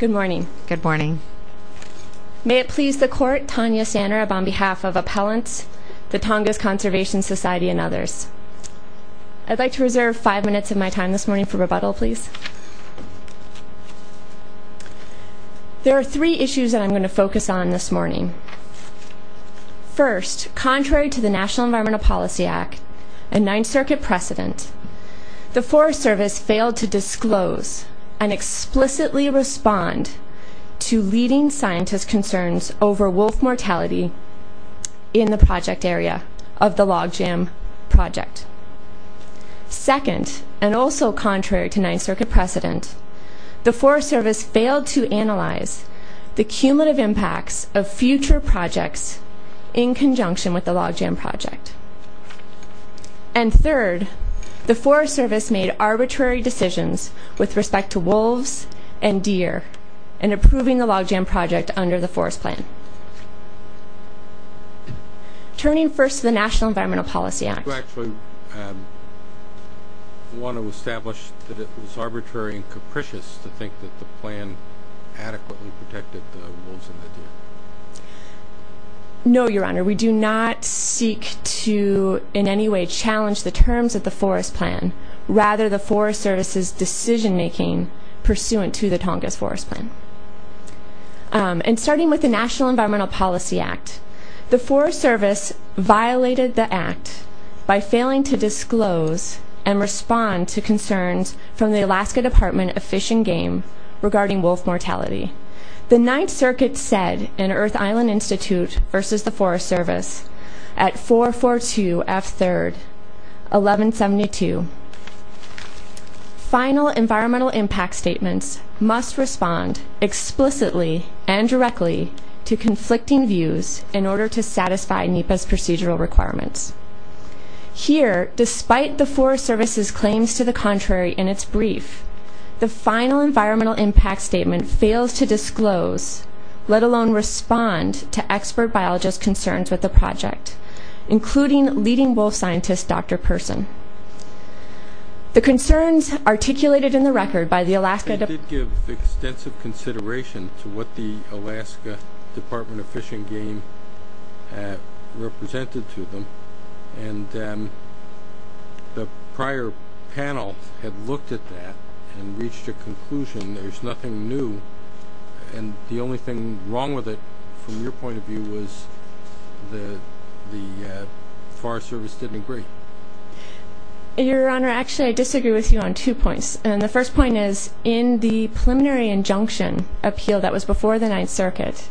Good morning. Good morning. May it please the court Tanya Sander on behalf of appellants, the Tongass Conservation Society and others. I'd like to reserve five minutes of my time this morning for rebuttal, please. There are three issues that I'm going to focus on this morning. First, contrary to the National Environmental Policy Act, and Ninth Circuit precedent, the Forest Service failed to respond to leading scientist concerns over wolf mortality in the project area of the Log Jam Project. Second, and also contrary to Ninth Circuit precedent, the Forest Service failed to analyze the cumulative impacts of future projects in conjunction with the Log Jam Project. And third, the Forest Service made arbitrary decisions with respect to wolves and deer in approving the Log Jam Project under the Forest Plan. Turning first to the National Environmental Policy Act. Do you actually want to establish that it was arbitrary and capricious to think that the plan adequately protected the wolves and the deer? No, Your Honor. We do not seek to in any way challenge the terms of the Forest Plan. Rather, the Forest Service's decision-making pursuant to the Tongass Forest Plan. And starting with the National Environmental Policy Act, the Forest Service violated the act by failing to disclose and respond to concerns from the Alaska Department of Fish and Game regarding wolf mortality. The Ninth Circuit said in Earth Island Institute versus the Forest Service at 442 F. 3rd, 1172. Final environmental impact statements must respond explicitly and directly to conflicting views in order to satisfy NEPA's procedural requirements. Here, despite the Forest Service's claims to the contrary in its brief, the final environmental impact statement fails to disclose, let alone respond to expert biologists' concerns with the project, including leading wolf scientist, Dr. Person. The concerns articulated in the record by the Alaska... They did give extensive consideration to what the Alaska Department of Fish and Game represented to them, and the prior panel had looked at that and reached a conclusion. There's nothing new, and the only thing wrong with it, from your point of view, was the Forest Service didn't agree. Your Honor, actually, I disagree with you on two points. And the first point is, in the preliminary injunction appeal that was before the Ninth Circuit,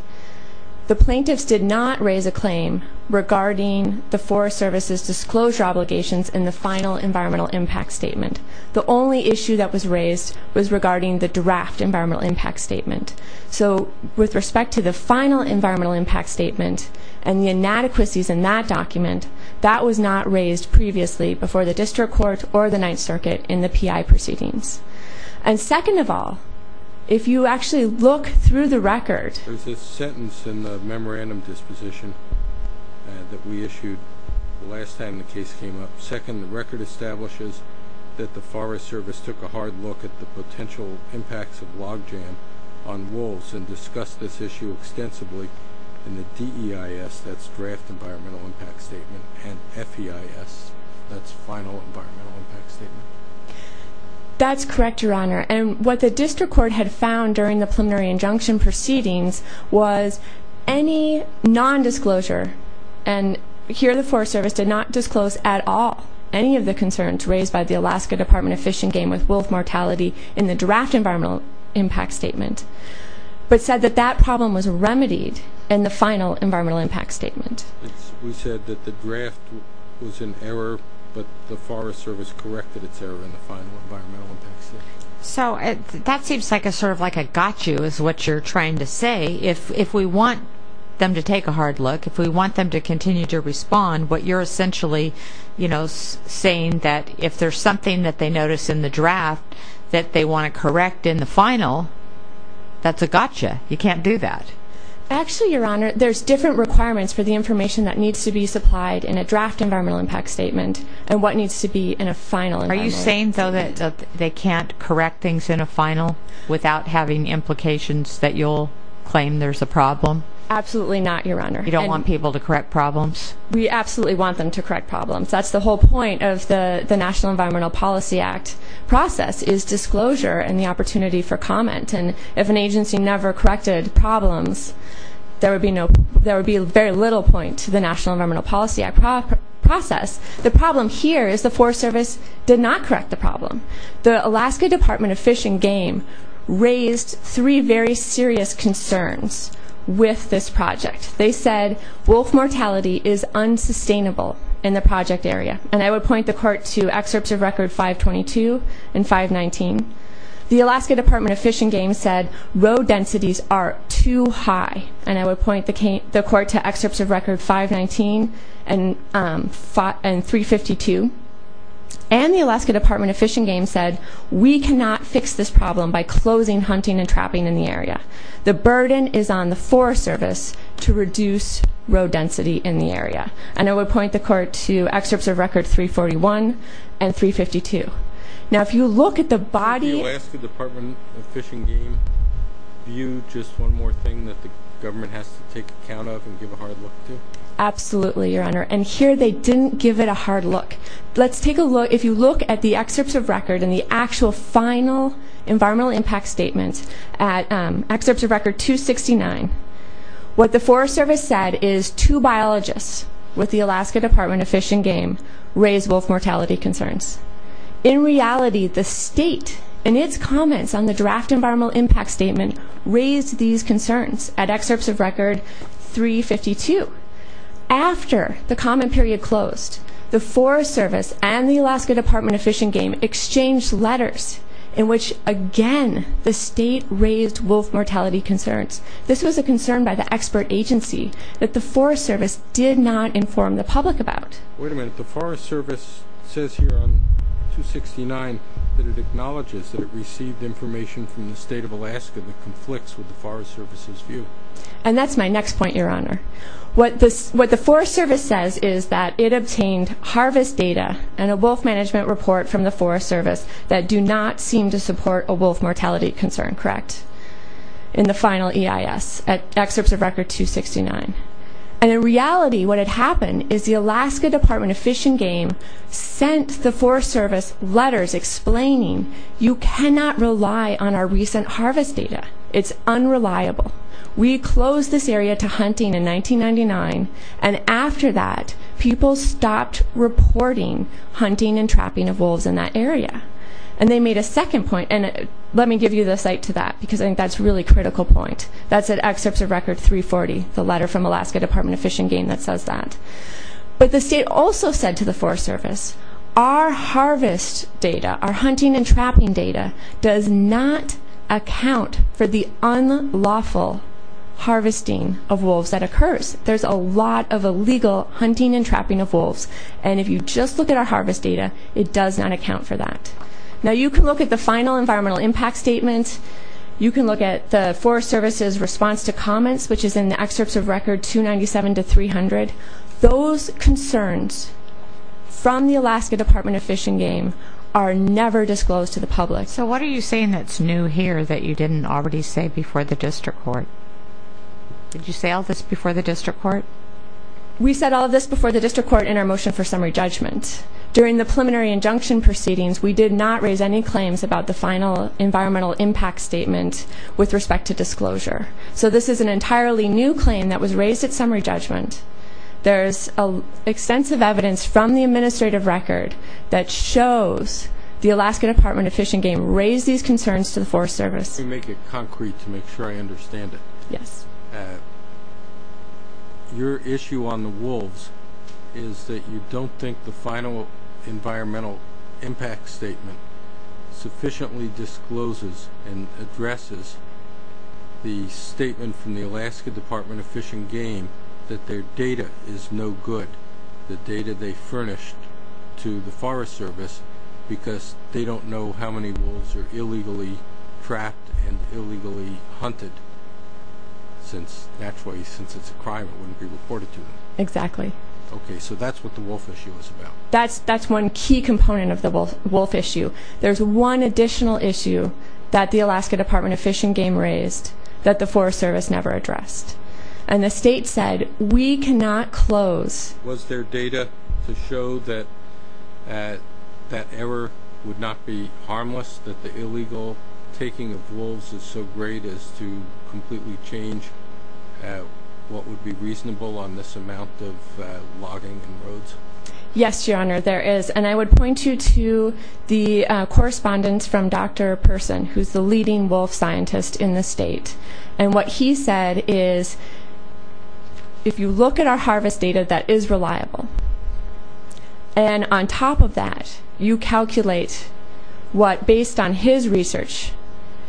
the plaintiffs did not raise a claim regarding the Forest Service's disclosure obligations in the final environmental impact statement. The only issue that was raised was regarding the draft environmental impact statement. So, with respect to the final environmental impact statement and the inadequacies in that document, that was not raised previously before the District Court or the Ninth Circuit in the P.I. proceedings. And second of all, if you actually look through the record... There's a sentence in the memorandum disposition that we issued the last time the case came up. Second, the record establishes that the Forest Service did not discuss the potential impacts of log jam on wolves and discussed this issue extensively in the D.E.I.S., that's Draft Environmental Impact Statement, and F.E.I.S., that's Final Environmental Impact Statement. That's correct, Your Honor. And what the District Court had found during the preliminary injunction proceedings was any nondisclosure, and here the Forest Service did not disclose at all any of the concerns raised by the Draft Environmental Impact Statement, but said that that problem was remedied in the Final Environmental Impact Statement. We said that the draft was in error, but the Forest Service corrected its error in the Final Environmental Impact Statement. So, that seems like a sort of like a got you is what you're trying to say. If we want them to take a hard look, if we want them to continue to respond, what you're essentially, you know, saying that if there's something that they notice in the draft that they want to correct in the final, that's a got you. You can't do that. Actually, Your Honor, there's different requirements for the information that needs to be supplied in a Draft Environmental Impact Statement and what needs to be in a final. Are you saying, though, that they can't correct things in a final without having implications that you'll claim there's a problem? Absolutely not, Your Honor. You don't want people to correct problems? We absolutely want them to correct problems. That's the whole point of the National Environmental Policy Act process is disclosure and the opportunity for comment and if an agency never corrected problems, there would be no, there would be very little point to the National Environmental Policy Act process. The problem here is the Forest Service did not correct the problem. The Alaska Department of Fish and Game raised three very serious concerns with this project. They said wolf mortality is unsustainable in the project area and I would point the Court to excerpts of record 522 and 519. The Alaska Department of Fish and Game said road densities are too high and I would point the Court to excerpts of record 519 and 352 and the Alaska Department of Fish and Game said we cannot fix this problem by closing hunting and trapping in the area. The burden is on the Forest Service to reduce road density in the area and I would point the Court to 519 and 352. Now if you look at the body... Did the Alaska Department of Fish and Game view just one more thing that the government has to take account of and give a hard look to? Absolutely, Your Honor, and here they didn't give it a hard look. Let's take a look, if you look at the excerpts of record and the actual final environmental impact statement at excerpts of record 269, what the Forest Service said is two biologists with the Alaska Department of Fish and Game raised wolf mortality concerns. In reality, the state in its comments on the draft environmental impact statement raised these concerns at excerpts of record 352. After the comment period closed, the Forest Service and the Alaska Department of Fish and Game exchanged letters in which again the state raised wolf mortality concerns. This was a concern by the expert agency that the Forest Service did not inform the public about. Wait a minute, the Forest Service says here on 269 that it acknowledges that it received information from the state of Alaska that conflicts with the Forest Service's view. And that's my next point, Your Honor. What the Forest Service says is that it obtained harvest data and a wolf management report from the Forest Service that do not seem to support a wolf mortality concern, correct, in the final EIS at excerpts of record 269. And in reality what had happened is the Alaska Department of Fish and Game sent the Forest Service letters explaining you cannot rely on our recent harvest data. It's unreliable. We closed this area to hunting in 1999 and after that people stopped reporting hunting and trapping of wolves in that area. And they made a second point and let me give you the site to that because I think that's a really critical point. That's at excerpts of record 340, the letter from Alaska Department of Fish and Game that says that. But the state also said to the Forest Service, our harvest data, our hunting and trapping data does not account for the unlawful harvesting of wolves that occurs. There's a lot of illegal hunting and trapping of wolves and if you just look at our harvest data it does not account for that. Now you can look at the final environmental impact statement. You can look at the Forest Service's response to comments which is in the excerpts of record 297 to 300. Those concerns from the Alaska Department of Fish and Game are never disclosed to the public. So what are you saying that's new here that you didn't already say before the district court? Did you say all this before the district court? We said all this before the district court in our motion for summary judgment. During the preliminary injunction proceedings we did not raise any claims about the final environmental impact statement with respect to disclosure. So this is an entirely new claim that was raised at summary judgment. There's extensive evidence from the administrative record that shows the Alaska Department of Fish and Game raised these concerns to the Forest Service. Let me make it concrete to make sure I understand it. The final environmental impact statement sufficiently discloses and addresses the statement from the Alaska Department of Fish and Game that their data is no good. The data they furnished to the Forest Service because they don't know how many wolves are illegally trapped and illegally hunted since naturally since it's a crime it wouldn't be reported to them. Exactly. Okay so that's what the wolf component of the wolf issue. There's one additional issue that the Alaska Department of Fish and Game raised that the Forest Service never addressed and the state said we cannot close. Was there data to show that that error would not be harmless that the illegal taking of wolves is so great as to completely change Yes your honor there is and I would point you to the correspondence from Dr. Person who's the leading wolf scientist in the state and what he said is if you look at our harvest data that is reliable and on top of that you calculate what based on his research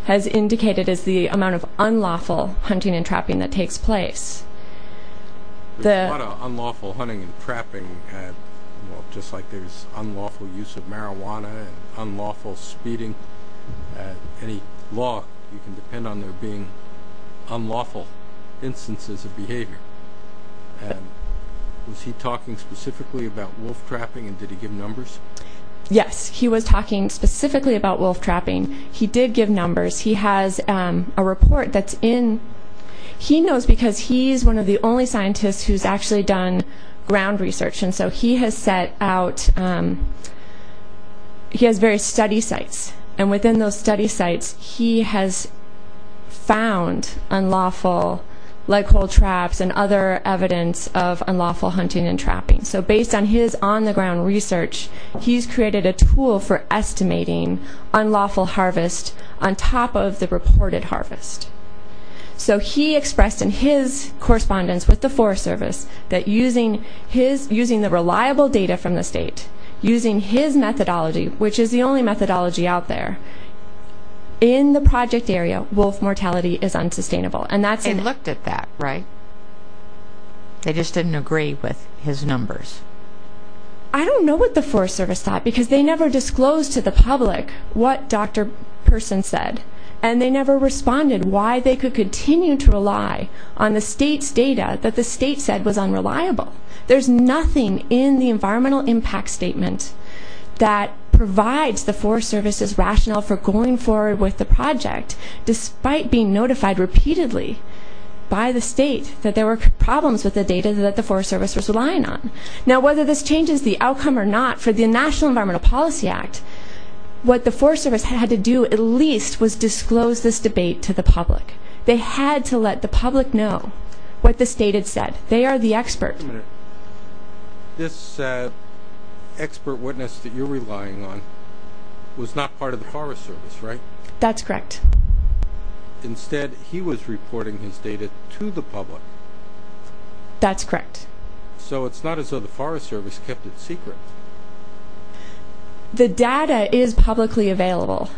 has indicated is the amount of unlawful hunting and trapping that takes place. There's a lot of unlawful hunting and trapping and well just like there's unlawful use of marijuana and unlawful speeding any law you can depend on there being unlawful instances of behavior and was he talking specifically about wolf trapping and did he give numbers? Yes he was talking specifically about wolf trapping. He did give numbers. He has a report that's in he knows because he's one of the only scientists who's actually done ground research and so he has set out he has various study sites and within those study sites he has found unlawful leg hold traps and other evidence of unlawful hunting and trapping so based on his on the ground research he's created a tool for estimating unlawful harvest on top of the reported harvest so he expressed in his correspondence with the Forest Service that using his using the reliable data from the state using his methodology which is the only methodology out there in the project area wolf mortality is unsustainable and that's and looked at that right they just didn't agree with his numbers I don't know what the Forest Service thought because they never disclosed to the public what Dr. Person said and they never responded why they could continue to rely on the state's data that the state said was unreliable there's nothing in the environmental impact statement that provides the Forest Service's rationale for going forward with the project despite being notified repeatedly by the state that there were problems with the data that the Forest Service was relying on now whether this changes the outcome or not for the National Environmental Policy Act what the Forest Service had to do at least was disclose this debate to the public they had to let the public know what the state had said they are the expert this expert witness that you're relying on was not part of the Forest Service right that's correct instead he was reporting his data to the public that's correct so it's not as though the Forest Service kept it secret the data is publicly available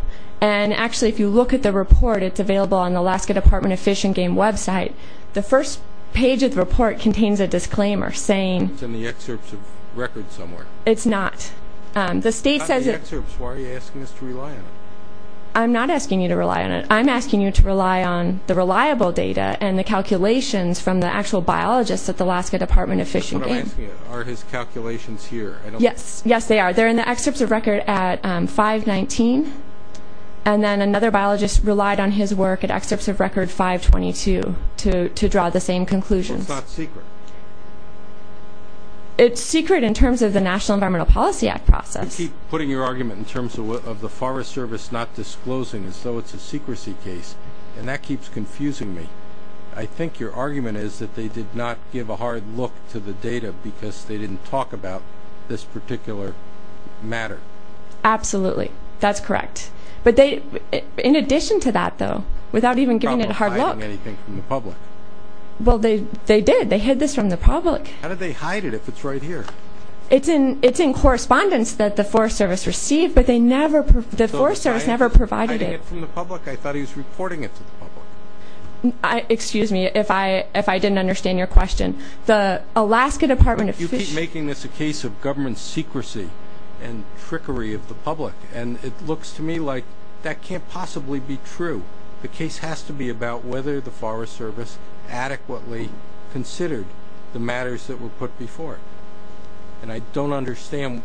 and actually if you look at the report it's available on the Alaska Department of Fish and Game website the first page of the report contains a disclaimer saying it's in the excerpts of record somewhere it's not the state says why are you asking us to rely on it I'm not asking you to rely on it I'm asking you to rely on the reliable data and the calculations from the actual biologists at the Alaska Department of Fish and Game are his calculations here yes yes they are they're in the excerpts of record at 519 and then another biologist relied on his work at excerpts of record 522 to to draw the same conclusion it's not secret it's secret in terms of the National Environmental Policy Act process you keep putting your argument in terms of the Forest Service not disclosing as though it's a secrecy case and that keeps confusing me I think your argument is that they did not give a hard look to the data because they didn't talk about this particular matter absolutely that's correct but they in addition to that though without even giving it a hard look anything from the public well they they did they hid this from the public how did they hide it if it's right here it's in it's in correspondence that the Forest Service received but they never the Forest Service never provided it from the public I thought he was reporting it to the public I excuse me if I if I didn't understand your question the Alaska Department of Fish making this a case of government secrecy and trickery of the public and it looks to me like that can't possibly be true the case has to be about whether the Forest Service adequately considered the matters that were put before and I don't understand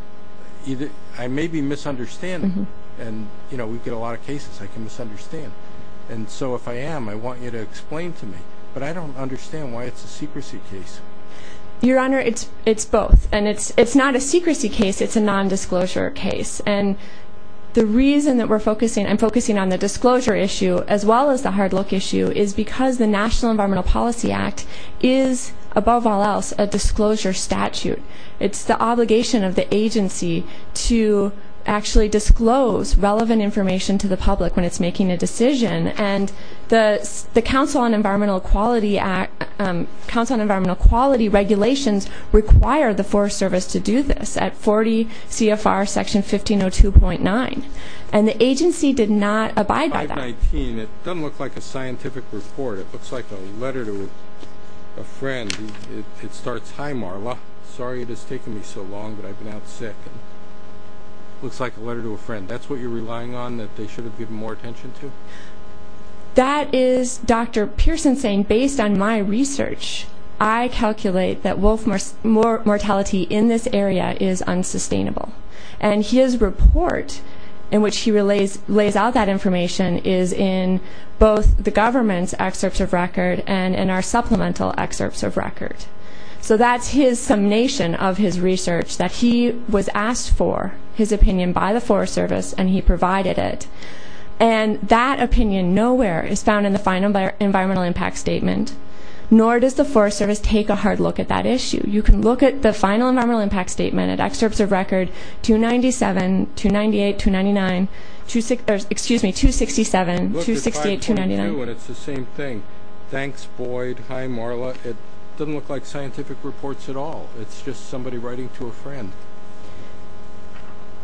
either I may be misunderstanding and you know we get a lot of cases I can misunderstand and so if I am I want you to explain to me but I don't understand why it's a secrecy case your honor it's it's both and it's it's not a secrecy case it's a non-disclosure case and the reason that we're focusing I'm focusing on the disclosure issue as well as the hard look issue is because the National Environmental Policy Act is above all else a disclosure statute it's the obligation of the agency to actually disclose relevant information to the public when it's making a decision and the the Council on Environmental Quality Act Council on Environmental Quality regulations require the Forest Service to do this at 40 CFR section 1502.9 and the agency did not abide by that. 519 it doesn't look like a scientific report it looks like a letter to a friend it starts hi Marla sorry it has taken me so long but I've been out sick looks like a letter to a friend that's what you're relying on that they should give more attention to that is Dr. Pearson saying based on my research I calculate that wolf more mortality in this area is unsustainable and his report in which he relays lays out that information is in both the government's excerpts of record and in our supplemental excerpts of record so that's his summation of his research that he was asked for his opinion by the Forest Service and he provided it and that opinion nowhere is found in the final environmental impact statement nor does the Forest Service take a hard look at that issue you can look at the final environmental impact statement at excerpts of record 297, 298, 299, excuse me 267, 268, 299. It's the same thing thanks Boyd hi Marla it doesn't look like scientific reports at all it's just somebody writing to a friend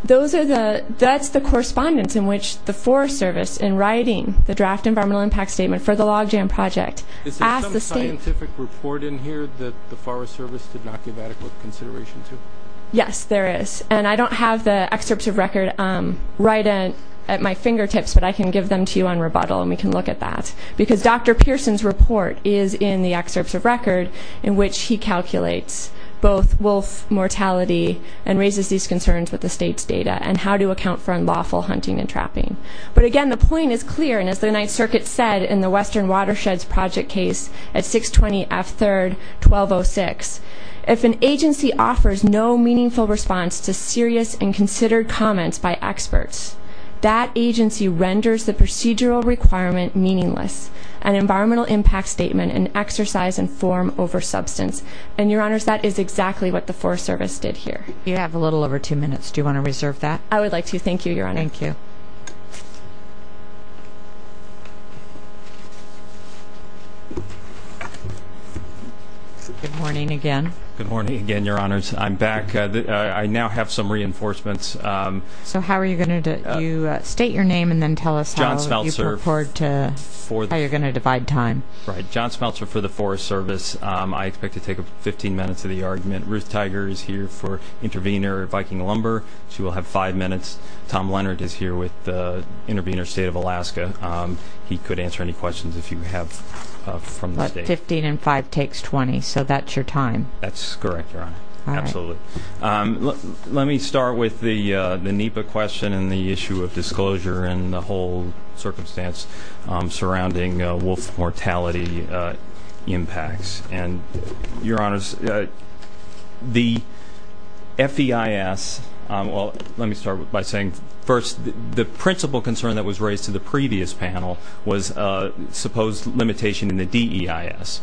those are the that's the correspondence in which the Forest Service in writing the draft environmental impact statement for the log jam project is there some scientific report in here that the Forest Service did not give adequate consideration to yes there is and I don't have the excerpts of record right at at my fingertips but I can give them to you on rebuttal and we can look at that because Dr. Pearson's report is in the excerpts of record in which he calculates both wolf mortality and raises these concerns with the state's data and how to account for unlawful hunting and trapping but again the point is clear and as the Ninth Circuit said in the Western Watersheds Project case at 620 F 3rd 1206 if an agency offers no meaningful response to serious and considered comments by experts that agency renders the procedural requirement meaningless an environmental impact statement and exercise and form over substance and your honors that is exactly what the Forest Service did here you have a little over two minutes do you want to reserve that I would like to thank you your honor thank you good morning again good morning again your honors I'm back I now have some reinforcements um so how are you going to do state your name and then tell us how you're going to divide time right John Smeltzer for the Forest Service I expect to take 15 minutes of the argument Ruth Tiger is here for intervener Viking Lumber she will have five minutes Tom Leonard is here with the intervener state of Alaska he could answer any questions if you have from the state 15 and 5 takes 20 so that's your time that's correct your honor absolutely let me start with the disclosure and the whole circumstance surrounding wolf mortality impacts and your honors the feis well let me start by saying first the principal concern that was raised to the previous panel was a supposed limitation in the deis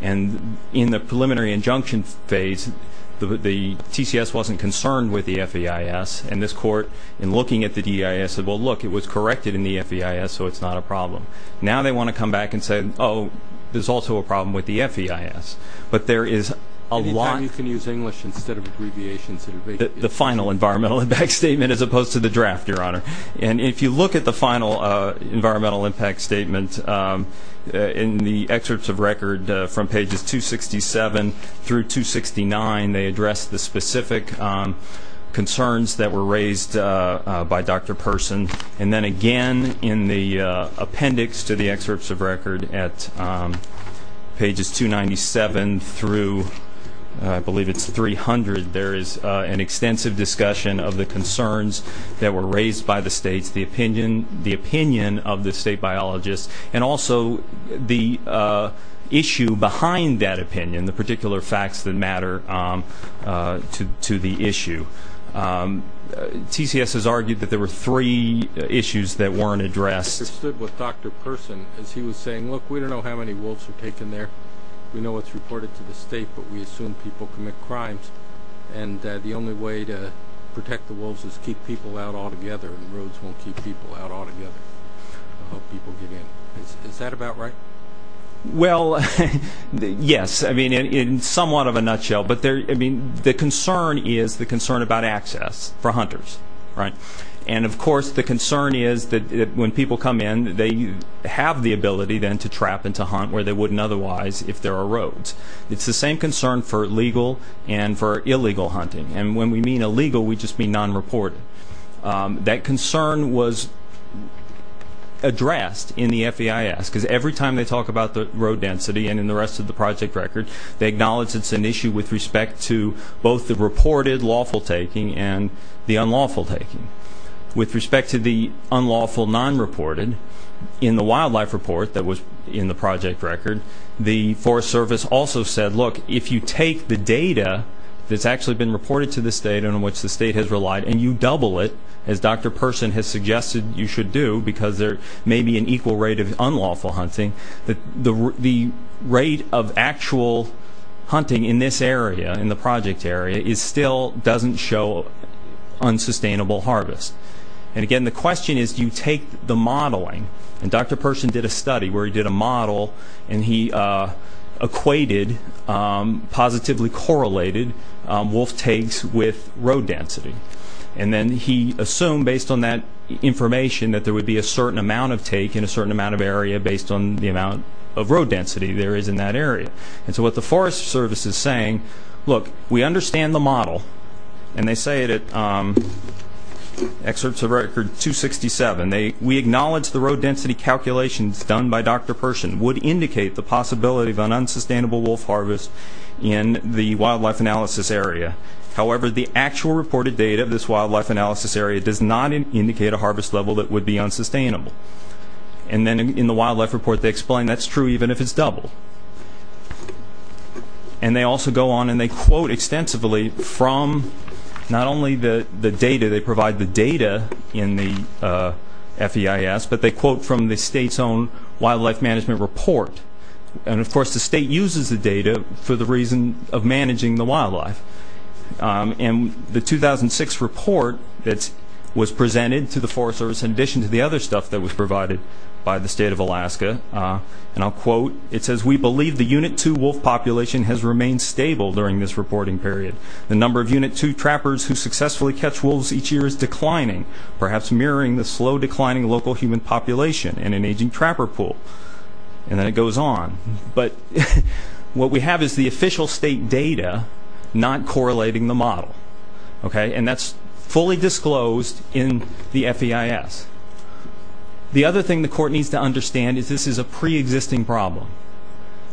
and in the preliminary injunction phase the the tcs wasn't concerned with the feis and this court in looking at the deis said well look it was corrected in the feis so it's not a problem now they want to come back and say oh there's also a problem with the feis but there is a lot you can use english instead of abbreviations the final environmental impact statement as opposed to the draft your honor and if you look at the final uh environmental impact statement um in the excerpts of record from pages 267 through 269 they address the specific concerns that were raised by dr person and then again in the appendix to the excerpts of record at pages 297 through i believe it's 300 there is an extensive discussion of the concerns that were raised by the states the opinion the opinion of the state biologists and also the issue behind that opinion the particular facts that matter um uh to to the issue um tcs has argued that there were three issues that weren't addressed with dr person as he was saying look we don't know how many wolves are taken there we know what's reported to the state but we assume people commit crimes and the only way to protect the wolves is keep people out all together and roads won't keep people out all together people get in is that about right well yes i mean in somewhat of a nutshell but there i mean the concern is the concern about access for hunters right and of course the concern is that when people come in they have the ability then to trap and to hunt where they wouldn't otherwise if there are roads it's the same concern for legal and for illegal hunting and when we mean illegal we just mean non-reported that concern was addressed in the feis because every time they talk about the road density and in the rest of the project record they acknowledge it's an issue with respect to both the reported lawful taking and the unlawful taking with respect to the unlawful non-reported in the wildlife report that was in the project record the forest service also said look if you take the data that's actually been reported to the state and in which the state has relied and you double it as dr person has suggested you should do because there may be an equal rate of unlawful hunting that the the rate of actual hunting in this area in the project area is still doesn't show unsustainable harvest and again the question is do you take the modeling and dr person did a study where he did a model and he uh equated um positively correlated wolf takes with road density and then he assumed based on that information that there would be a certain amount of take in a certain amount of area based on the amount of road density there is in that area and so what the forest service is saying look we understand the model and they say it at excerpts of record 267 they we acknowledge the road density calculations done by dr person would indicate the possibility of an unsustainable wolf harvest in the wildlife analysis area however the actual reported data of this wildlife analysis area does not indicate a harvest level that would be unsustainable and then in the wildlife report they explain that's true even if it's double and they also go on and they quote extensively from not only the the data they provide the data in the uh feis but they quote from the state's own wildlife management report and of course the state uses the data for the reason of managing the wildlife and the 2006 report that was presented to the forest service in addition to the other stuff that was provided by the state of alaska and i'll quote it says we believe the unit two wolf population has remained stable during this reporting period the number of unit two trappers who successfully catch wolves each year is declining perhaps mirroring the slow declining local human population and an aging trapper pool and then it goes on but what we have is the official state data not correlating the model okay and that's fully disclosed in the feis the other thing the court needs to understand is this is a pre-existing problem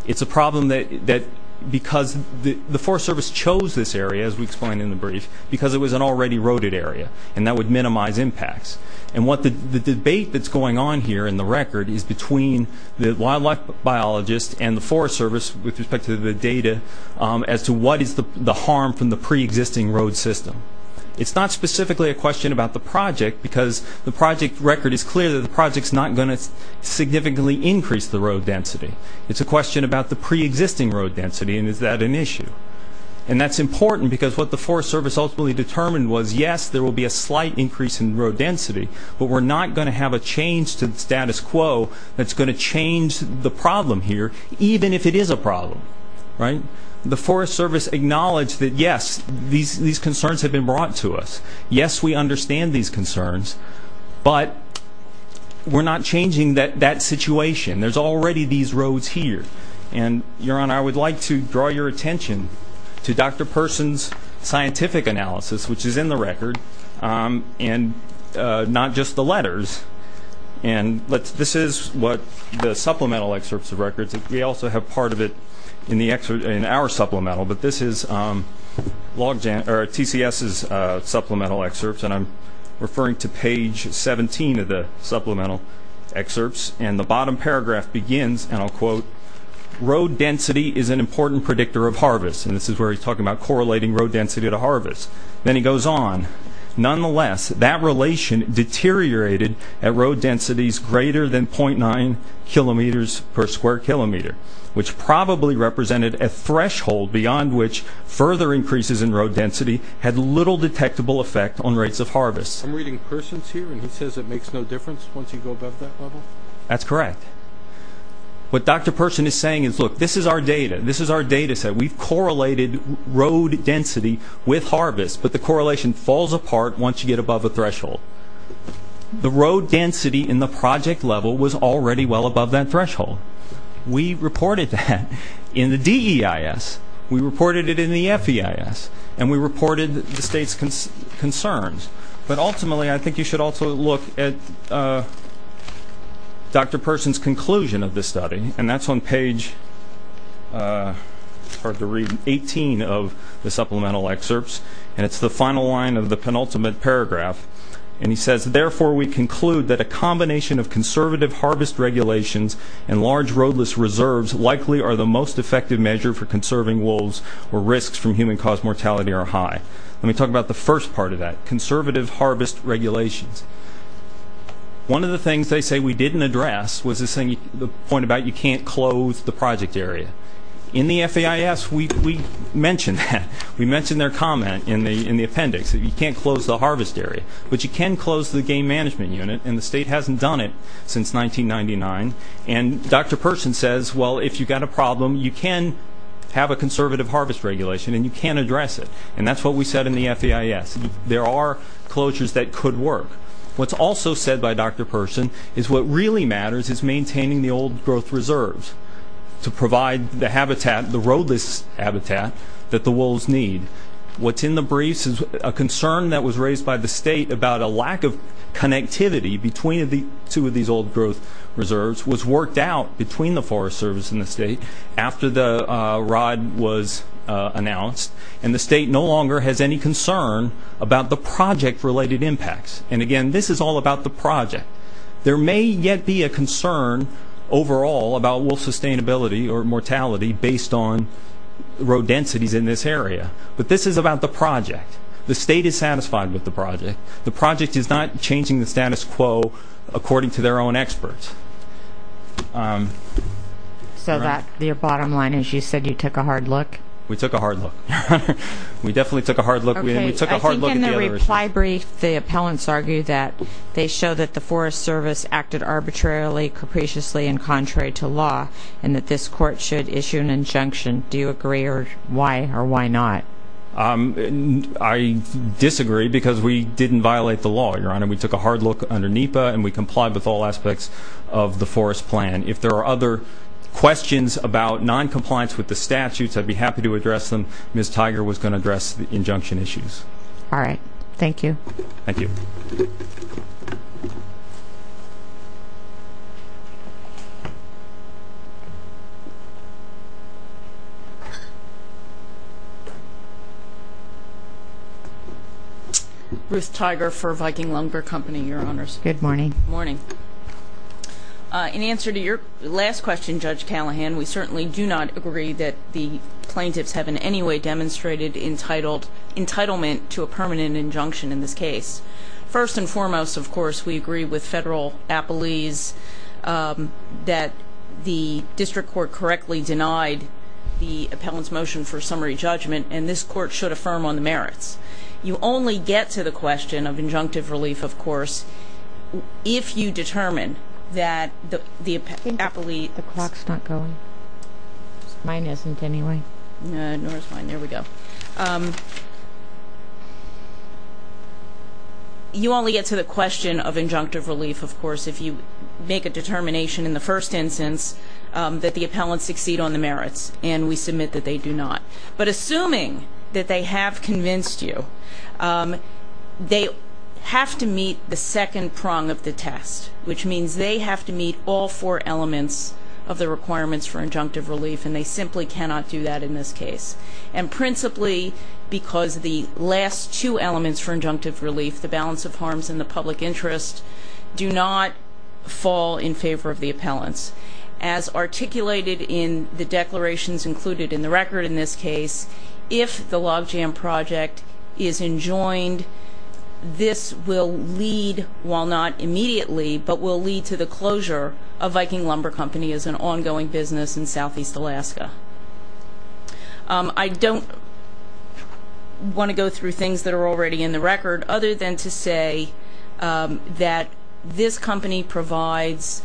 it's a problem that that because the the forest service chose this area as we explained in the brief because it was an already roaded area and that would minimize impacts and what the the debate that's going on here in the record is between the wildlife biologist and the forest service with respect to the data as to what is the the harm from the pre-existing road system it's not specifically a question about the project because the project record is clear that the project's not going to significantly increase the road density it's a question about the pre-existing road density and is that an issue and that's important because what the forest service ultimately determined was yes there will be a slight increase in road density but we're not going to have a change to the status quo that's going to change the problem here even if it is a problem right the forest service acknowledged that yes these these concerns have been brought to us yes we understand these concerns but we're not changing that that situation there's already these roads here and your honor i would like to draw your attention to dr person's scientific analysis which is in the record um and uh not just the letters and let's this is what the supplemental excerpts of records we also have part of it in the excerpt in our supplemental but this is um log jam or tcs's uh supplemental excerpts and i'm referring to page 17 of the supplemental excerpts and the bottom paragraph begins and i'll quote road density is an important predictor of harvest and this is where he's talking about correlating road density to harvest then he goes on nonetheless that relation deteriorated at road densities greater than 0.9 kilometers per square kilometer which probably represented a threshold beyond which further increases in road density had little detectable effect on rates of harvest i'm reading persons here and he says it makes no difference once you go above that level that's correct what dr person is saying is look this is our data this is our density with harvest but the correlation falls apart once you get above a threshold the road density in the project level was already well above that threshold we reported that in the deis we reported it in the feis and we reported the state's concerns but ultimately i think you should also look at uh dr person's conclusion of this study and that's on page uh hard to read 18 of the supplemental excerpts and it's the final line of the penultimate paragraph and he says therefore we conclude that a combination of conservative harvest regulations and large roadless reserves likely are the most effective measure for conserving wolves or risks from human cause mortality are high let me talk about the first part of that conservative harvest regulations one of the things they say we didn't address was this thing the point about you can't close the project area in the feis we we mentioned that we mentioned their comment in the in the appendix you can't close the harvest area but you can close the game management unit and the state hasn't done it since 1999 and dr person says well if you've got a problem you can have a conservative harvest regulation and you can't address it and that's what we said in the feis there are closures that could work what's also said by dr person is what really matters is maintaining the old growth reserves to provide the habitat the roadless habitat that the wolves need what's in the briefs is a concern that was raised by the state about a lack of connectivity between the two of these old growth reserves was worked out between the forest service and the state after the uh rod was uh announced and the state no longer has any concern about the project related impacts and again this is all about the project there may yet be a concern overall about wolf sustainability or mortality based on road densities in this area but this is about the project the state is satisfied with the project the project is not changing the status quo according to their own experts um so that the bottom line is you said you took a hard look we took a hard look we definitely took a hard look we took in the reply brief the appellants argue that they show that the forest service acted arbitrarily capriciously and contrary to law and that this court should issue an injunction do you agree or why or why not um i disagree because we didn't violate the law your honor we took a hard look under nipa and we complied with all aspects of the forest plan if there are other questions about non-compliance with the statutes i'd be happy to address them miss tiger was going to address the injunction issues all right thank you thank you ruth tiger for viking lunger company your honors good morning morning uh in answer to your last question judge callahan we certainly do the plaintiffs have in any way demonstrated entitled entitlement to a permanent injunction in this case first and foremost of course we agree with federal appellees that the district court correctly denied the appellant's motion for summary judgment and this court should affirm on the merits you only get to the question of injunctive relief of course if you determine that the the appellee the clock's not going mine isn't anyway no it's fine there we go you only get to the question of injunctive relief of course if you make a determination in the first instance um that the appellants succeed on the merits and we submit that they do not but assuming that they have convinced you um they have to meet the second prong of the test which means they have to meet all four elements of the requirements for injunctive relief and they simply cannot do that in this case and principally because the last two elements for injunctive relief the balance of harms and the public interest do not fall in favor of the appellants as articulated in the declarations included in the record in this case if the logjam project is enjoined this will lead while not immediately but will lead to the closure of Viking Lumber Company as an ongoing business in southeast Alaska I don't want to go through things that are already in the record other than to say that this company provides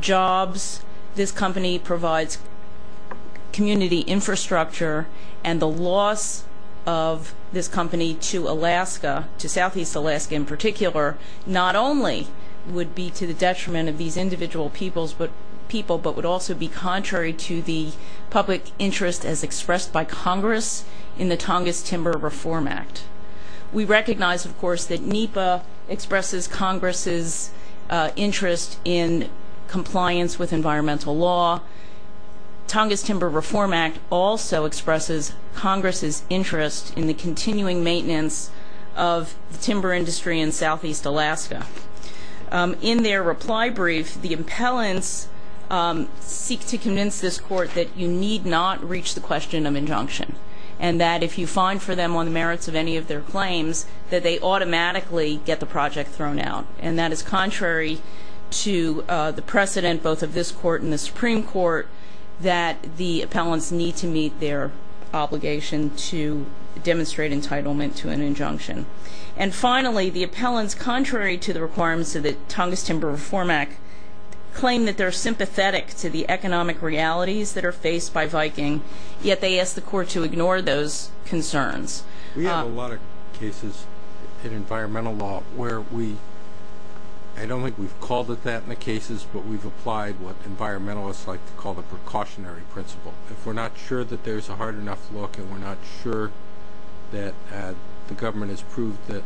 jobs this company provides community infrastructure and the loss of this company to Alaska to southeast Alaska in particular not only would be to the detriment of these individual peoples but people but would also be contrary to the public interest as expressed by Congress in the Tongass Timber Reform Act we recognize of course that NEPA expresses Congress's interest in compliance with environmental law Tongass Timber Reform Act also expresses Congress's interest in the continuing maintenance of the timber industry in southeast Alaska in their reply brief the appellants seek to convince this court that you need not reach the question of injunction and that if you find for them on the merits of any of their claims that they automatically get the project thrown out and that is contrary to the precedent both of this court and the Supreme Court that the appellants need to meet their obligation to demonstrate entitlement to an injunction and finally the appellants contrary to the requirements of the Tongass Timber Reform Act claim that they're sympathetic to the economic realities that are faced by Viking yet they ask the court to ignore those concerns we have a lot of cases in environmental law where we I don't think we've called it that in the cases but we've applied what environmentalists like to call the precautionary principle if we're not sure that there's a hard enough look and we're not sure that the government has proved that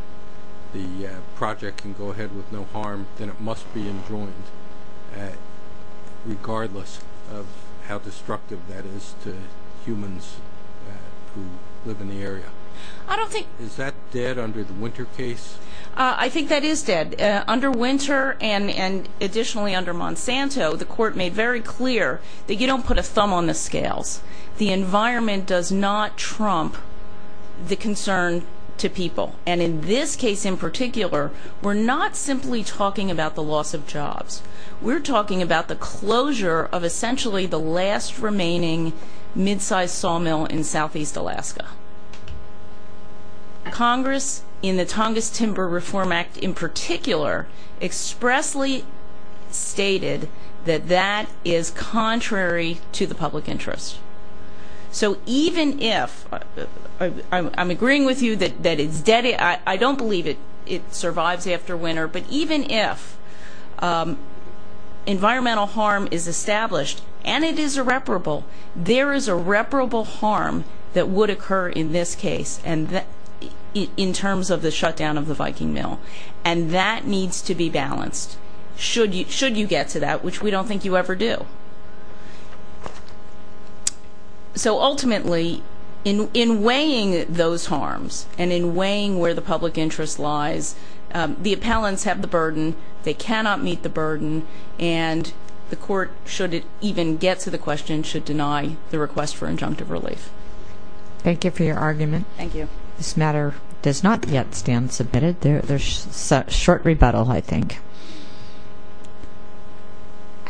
the project can go ahead with no harm then it must be enjoined regardless of how destructive that is to humans who live in the area I don't think is that dead under the winter case I think that is dead under winter and and additionally under Monsanto the court made very clear that you don't put a thumb on the scales the environment does not trump the concern to people and in this case in particular we're not simply talking about the loss of jobs we're talking about the closure of essentially the last remaining mid-sized sawmill in southeast Alaska Congress in the Tongass Timber Reform Act in particular expressly stated that that is contrary to the public interest so even if I'm agreeing with you that that it's dead I don't believe it it survives after winter but even if environmental harm is established and it is irreparable there is irreparable harm that would occur in this case and that in terms of the shutdown of the Viking Mill and that needs to be balanced should you should you get to that which we don't think you ever do so ultimately in in weighing those harms and in weighing where the public interest lies the appellants have the burden they cannot meet the burden and the court should it even get to the question should deny the request for injunctive relief thank you for your argument thank you this matter does not yet stand submitted there's a short rebuttal I think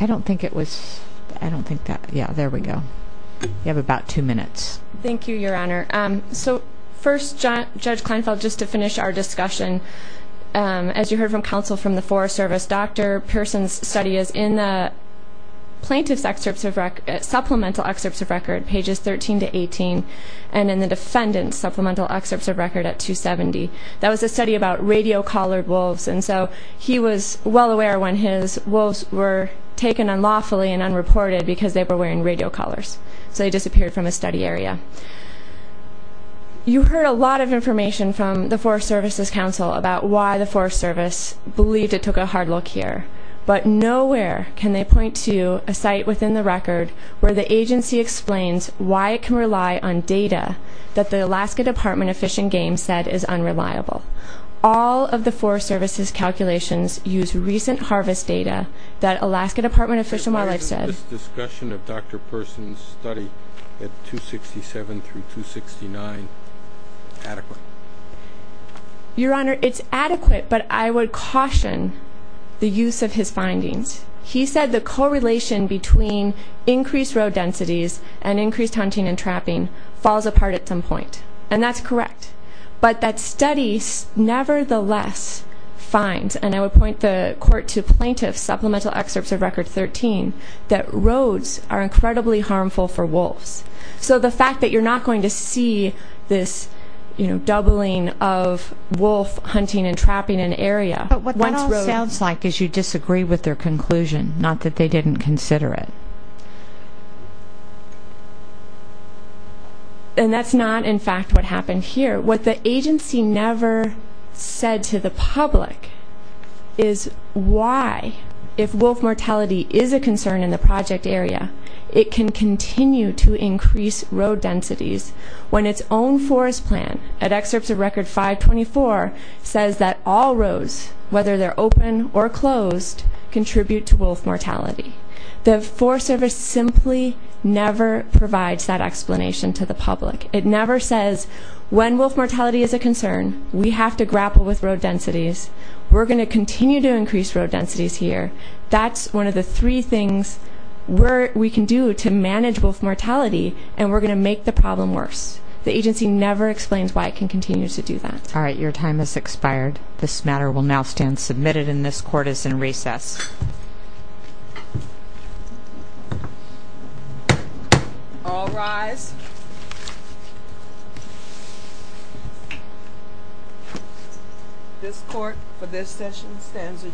I don't think it was I don't think that yeah there we go you have about two minutes thank you your honor um so first judge judge Kleinfeld just to finish our discussion as you heard from counsel from the Forest Service Dr. Pearson's study is in the plaintiff's excerpts of record supplemental excerpts of record pages 13 to 18 and in the defendant's supplemental excerpts of record at 270 that was a study about radio collared wolves and so he was well aware when his wolves were taken unlawfully and unreported because they were wearing radio collars so he disappeared from a study area you heard a lot of information from the Forest Services Council about why the Forest Service believed it took a hard look here but nowhere can they point to a site within the record where the agency explains why it can rely on data that the Alaska Department of Fish and Game said is unreliable all of the Forest Services calculations use recent harvest data that Alaska Department of Fish and Wildlife said this discussion of Dr. Pearson's study at 267 through 269 adequate your honor it's adequate but I would caution the use of his findings he said the correlation between increased road densities and increased hunting and trapping falls apart at some point and that's correct but that study nevertheless finds and I would point the court to plaintiffs supplemental excerpts of record 13 that roads are incredibly harmful for wolves so the fact that you're not going to see this you know doubling of wolf hunting and area but what that all sounds like is you disagree with their conclusion not that they didn't consider it and that's not in fact what happened here what the agency never said to the public is why if wolf mortality is a concern in the project area it can continue to increase road densities when its own forest plan at excerpts of record 524 says that all roads whether they're open or closed contribute to wolf mortality the forest service simply never provides that explanation to the public it never says when wolf mortality is a concern we have to grapple with road densities we're going to continue to increase road densities here that's one of the three things where we can do to manage wolf mortality and we're going to make the problem worse the agency never explains why it can continue to do that all right your time has expired this matter will now stand submitted in this court is in recess all rise this court for this session stands adjourned